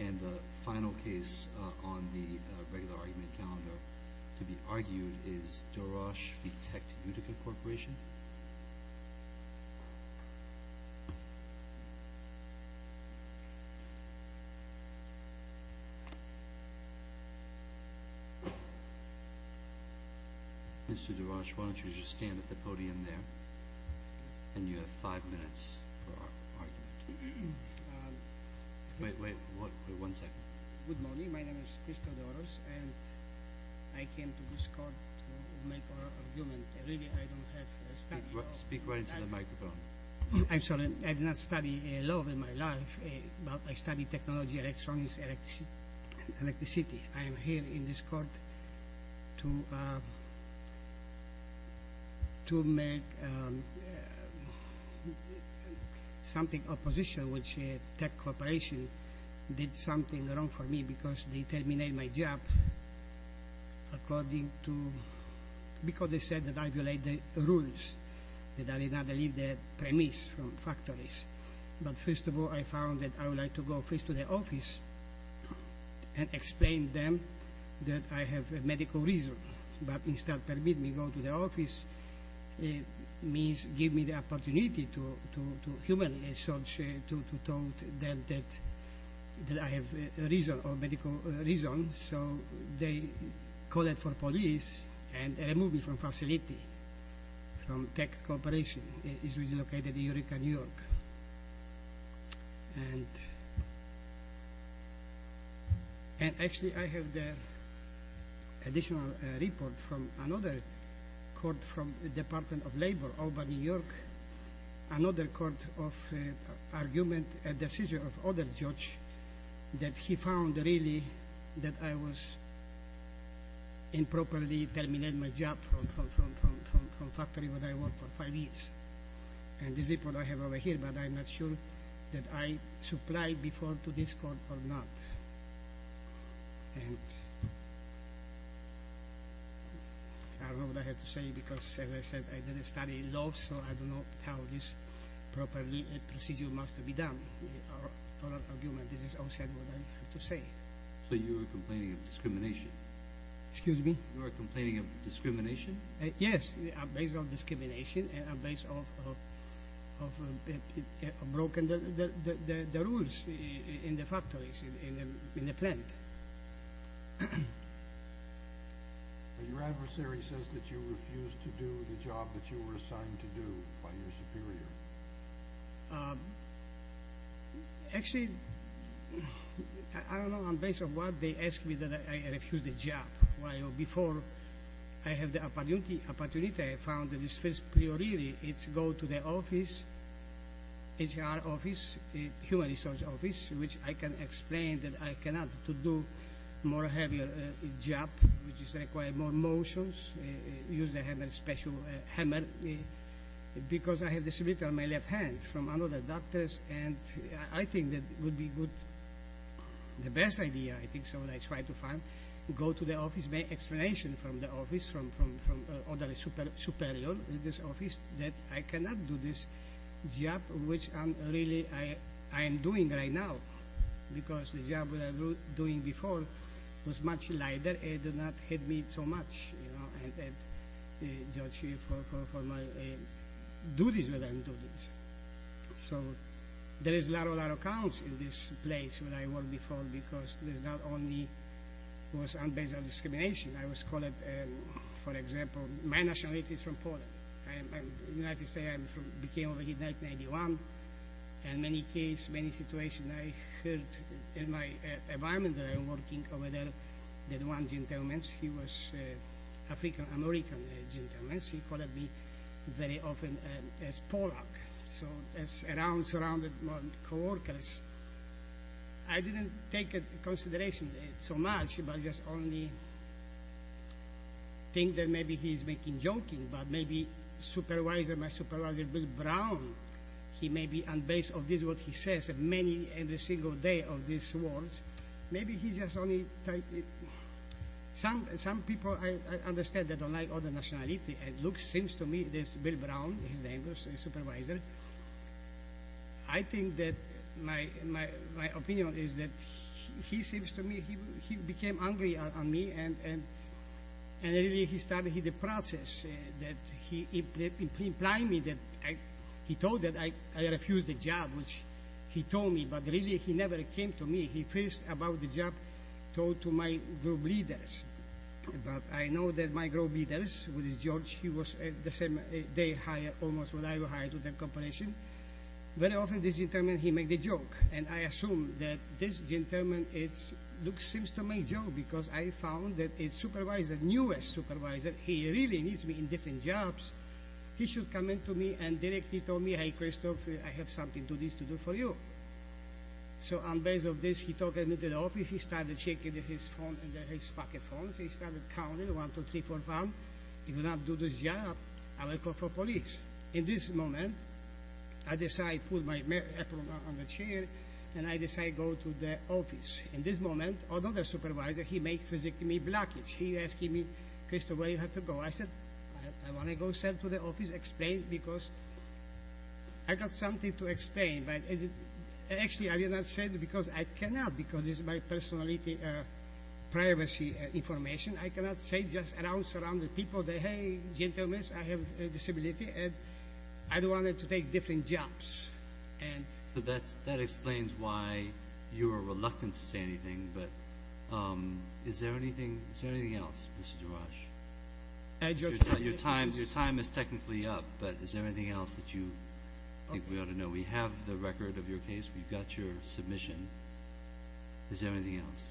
And the final case on the regular argument calendar to be argued is Doroz v. Tect Utica Corp. Mr. Doroz, why don't you just stand at the podium there, and you have five minutes for argument. Wait, wait. One second. Good morning. My name is Cristo Doroz, and I came to this court to make an argument. Really, I don't have a study. Speak right into the microphone. I'm sorry. I did not study law in my life, but I studied technology, electronics, electricity. I am here in this court to make something, opposition, which Tect Corp. did something wrong for me because they terminated my job because they said that I violated the rules, that I did not leave the premise from factories. But first of all, I found that I would like to go first to the office and explain to them that I have a medical reason. But instead of permitting me to go to the office, it means giving me the opportunity to humanize, so to tell them that I have a reason, a medical reason. So they call it for police and remove me from facility, from Tect Corporation. It is located in Eureka, New York. And actually, I have the additional report from another court from the Department of Labor, Albany, New York, another court of argument and decision of other judge that he found really that I was improperly terminated my job from factory where I worked for five years. And this report I have over here, but I'm not sure that I supplied before to this court or not. And I don't know what I have to say because, as I said, I didn't study law, so I do not tell this properly. A procedure must be done. This is all I have to say. So you are complaining of discrimination? Excuse me? You are complaining of discrimination? Yes, based on discrimination and based on broken rules in the factories, in the plant. Your adversary says that you refused to do the job that you were assigned to do by your superior. Actually, I don't know. And based on what they ask me that I refuse the job. Well, before I have the opportunity, I found that this first priority is go to the office, HR office, human resource office, which I can explain that I cannot to do more heavier job, which is require more motions. Use the hammer, special hammer, because I have this written on my left hand from another doctors. And I think that would be good. The best idea, I think, so I try to find, go to the office, make explanation from the office, from other superior, this office, that I cannot do this job, which I'm really, I am doing right now. Because the job that I was doing before was much lighter and did not hit me so much, you know, and judge me for my duties when I'm doing this. So there is a lot of accounts in this place where I worked before, because it was not only based on discrimination. I was called, for example, my nationality is from Poland. In the United States, I came over here in 1991. In many cases, many situations, I heard in my environment that I'm working over there, that one gentleman, he was African-American gentleman. He called me very often as Polack. So that's around, surrounded by coworkers. I didn't take it into consideration so much, but just only think that maybe he's making joking, but maybe supervisor, my supervisor, Bill Brown, he may be on base of this, what he says, many in a single day of these awards. Maybe he just only type it. Some people, I understand, they don't like all the nationality. It looks, seems to me, this Bill Brown, his name was supervisor. I think that my opinion is that he seems to me, he became angry on me, and really he started the process that he implied me that he told that I refused the job, which he told me, but really he never came to me. He first about the job told to my group leaders. But I know that my group leaders, which is George, he was the same day hired, almost when I was hired to the company. Very often, this gentleman, he make the joke, and I assume that this gentleman seems to make joke because I found that his supervisor, newest supervisor, he really needs me in different jobs. He should come in to me and directly told me, hey, Christopher, I have something to do for you. So on base of this, he took me to the office. He started checking his phone, his pocket phones. He started counting, one, two, three, four, five. If you do not do this job, I will call for police. In this moment, I decide put my apron on the chair, and I decide go to the office. In this moment, another supervisor, he make physically me blockage. He asking me, Christopher, where you have to go? I said, I want to go, sir, to the office, explain, because I got something to explain. Actually, I did not say that because I cannot because this is my personal privacy information. I cannot say just around surrounded people that, hey, gentlemen, I have disability, and I don't want them to take different jobs. That explains why you are reluctant to say anything. But is there anything else, Mr. Giroir? Your time is technically up, but is there anything else that you think we ought to know? We have the record of your case. We've got your submission. Is there anything else?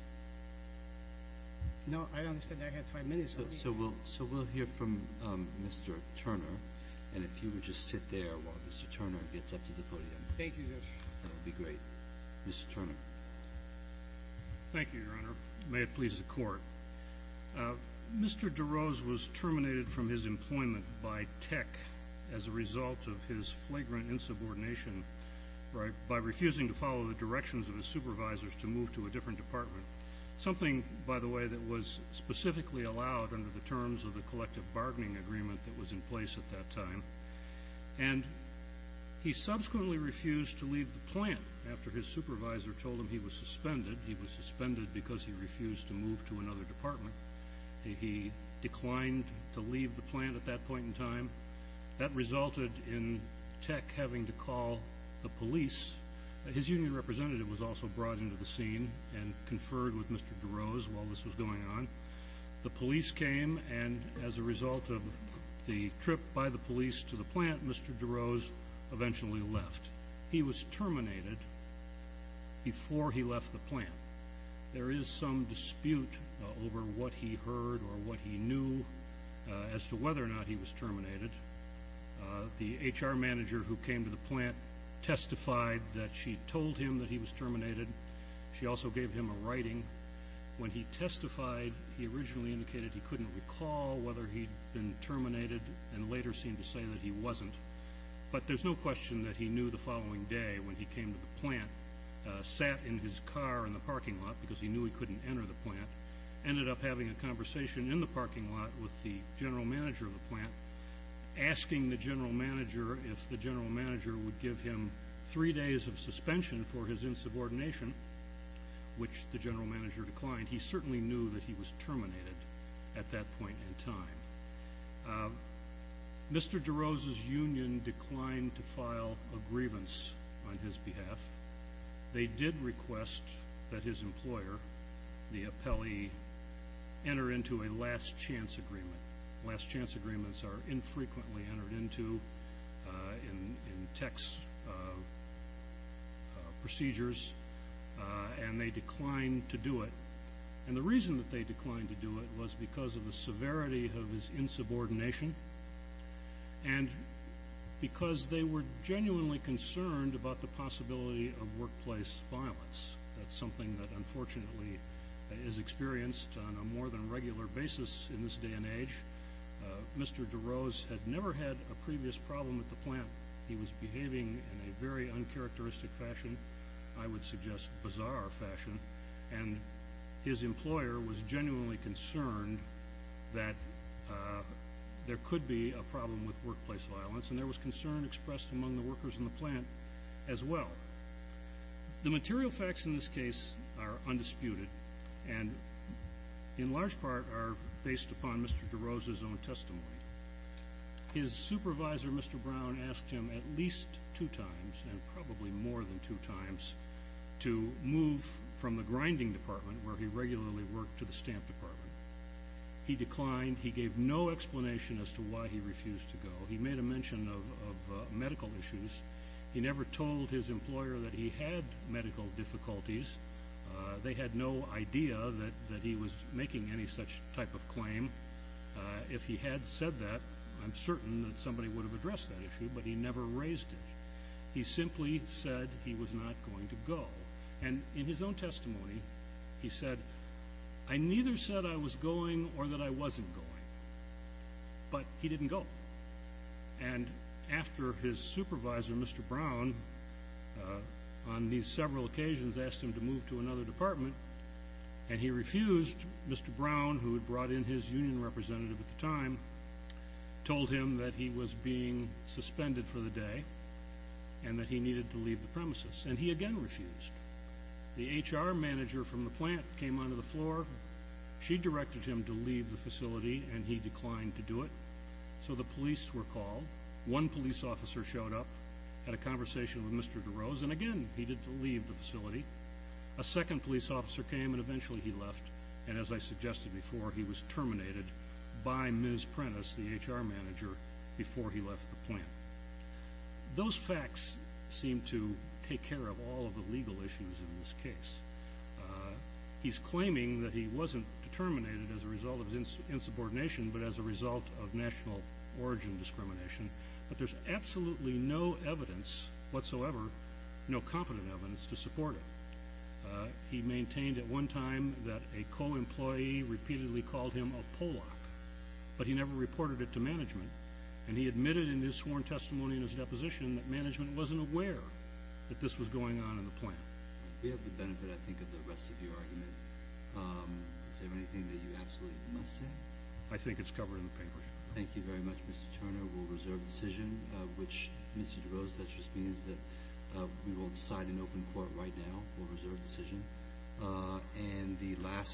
No, I understand. I have five minutes. So we'll hear from Mr. Turner. And if you would just sit there while Mr. Turner gets up to the podium. Thank you, Your Honor. That would be great. Mr. Turner. Thank you, Your Honor. May it please the Court. Mr. Giroir was terminated from his employment by tech as a result of his flagrant insubordination by refusing to follow the directions of his supervisors to move to a different department, something, by the way, that was specifically allowed under the terms of the collective bargaining agreement that was in place at that time. And he subsequently refused to leave the plant after his supervisor told him he was suspended. He was suspended because he refused to move to another department. He declined to leave the plant at that point in time. That resulted in tech having to call the police. His union representative was also brought into the scene and conferred with Mr. Giroir while this was going on. The police came, and as a result of the trip by the police to the plant, Mr. Giroir eventually left. He was terminated before he left the plant. There is some dispute over what he heard or what he knew as to whether or not he was terminated. The HR manager who came to the plant testified that she told him that he was terminated. She also gave him a writing. When he testified, he originally indicated he couldn't recall whether he'd been terminated and later seemed to say that he wasn't. But there's no question that he knew the following day when he came to the plant, sat in his car in the parking lot because he knew he couldn't enter the plant, ended up having a conversation in the parking lot with the general manager of the plant, asking the general manager if the general manager would give him three days of suspension for his insubordination, which the general manager declined. He certainly knew that he was terminated at that point in time. Mr. Giroir's union declined to file a grievance on his behalf. They did request that his employer, the appellee, enter into a last chance agreement. Last chance agreements are infrequently entered into in text procedures, and they declined to do it. And the reason that they declined to do it was because of the severity of his insubordination and because they were genuinely concerned about the possibility of workplace violence. That's something that unfortunately is experienced on a more than regular basis in this day and age. Mr. Giroir had never had a previous problem at the plant. He was behaving in a very uncharacteristic fashion, I would suggest bizarre fashion, and his employer was genuinely concerned that there could be a problem with workplace violence, and there was concern expressed among the workers in the plant as well. The material facts in this case are undisputed and in large part are based upon Mr. Giroir's own testimony. His supervisor, Mr. Brown, asked him at least two times, and probably more than two times, to move from the grinding department, where he regularly worked, to the stamp department. He declined. He gave no explanation as to why he refused to go. He made a mention of medical issues. He never told his employer that he had medical difficulties. They had no idea that he was making any such type of claim. If he had said that, I'm certain that somebody would have addressed that issue, but he never raised it. He simply said he was not going to go. And in his own testimony, he said, I neither said I was going or that I wasn't going, but he didn't go. And after his supervisor, Mr. Brown, on these several occasions, asked him to move to another department, and he refused, Mr. Brown, who had brought in his union representative at the time, told him that he was being suspended for the day and that he needed to leave the premises. And he again refused. The HR manager from the plant came onto the floor. She directed him to leave the facility, and he declined to do it. So the police were called. One police officer showed up, had a conversation with Mr. DeRose, and again he did leave the facility. A second police officer came, and eventually he left. And as I suggested before, he was terminated by Ms. Prentiss, the HR manager, before he left the plant. Those facts seem to take care of all of the legal issues in this case. He's claiming that he wasn't terminated as a result of insubordination, but as a result of national origin discrimination, but there's absolutely no evidence whatsoever, no competent evidence, to support it. He maintained at one time that a co-employee repeatedly called him a Pollock, but he never reported it to management, and he admitted in his sworn testimony and his deposition that management wasn't aware that this was going on in the plant. We have the benefit, I think, of the rest of your argument. Is there anything that you absolutely must say? I think it's covered in the paper. Thank you very much, Mr. Turner. We'll reserve the decision, which, Mr. DeRose, that just means that we will decide in open court right now. We'll reserve the decision.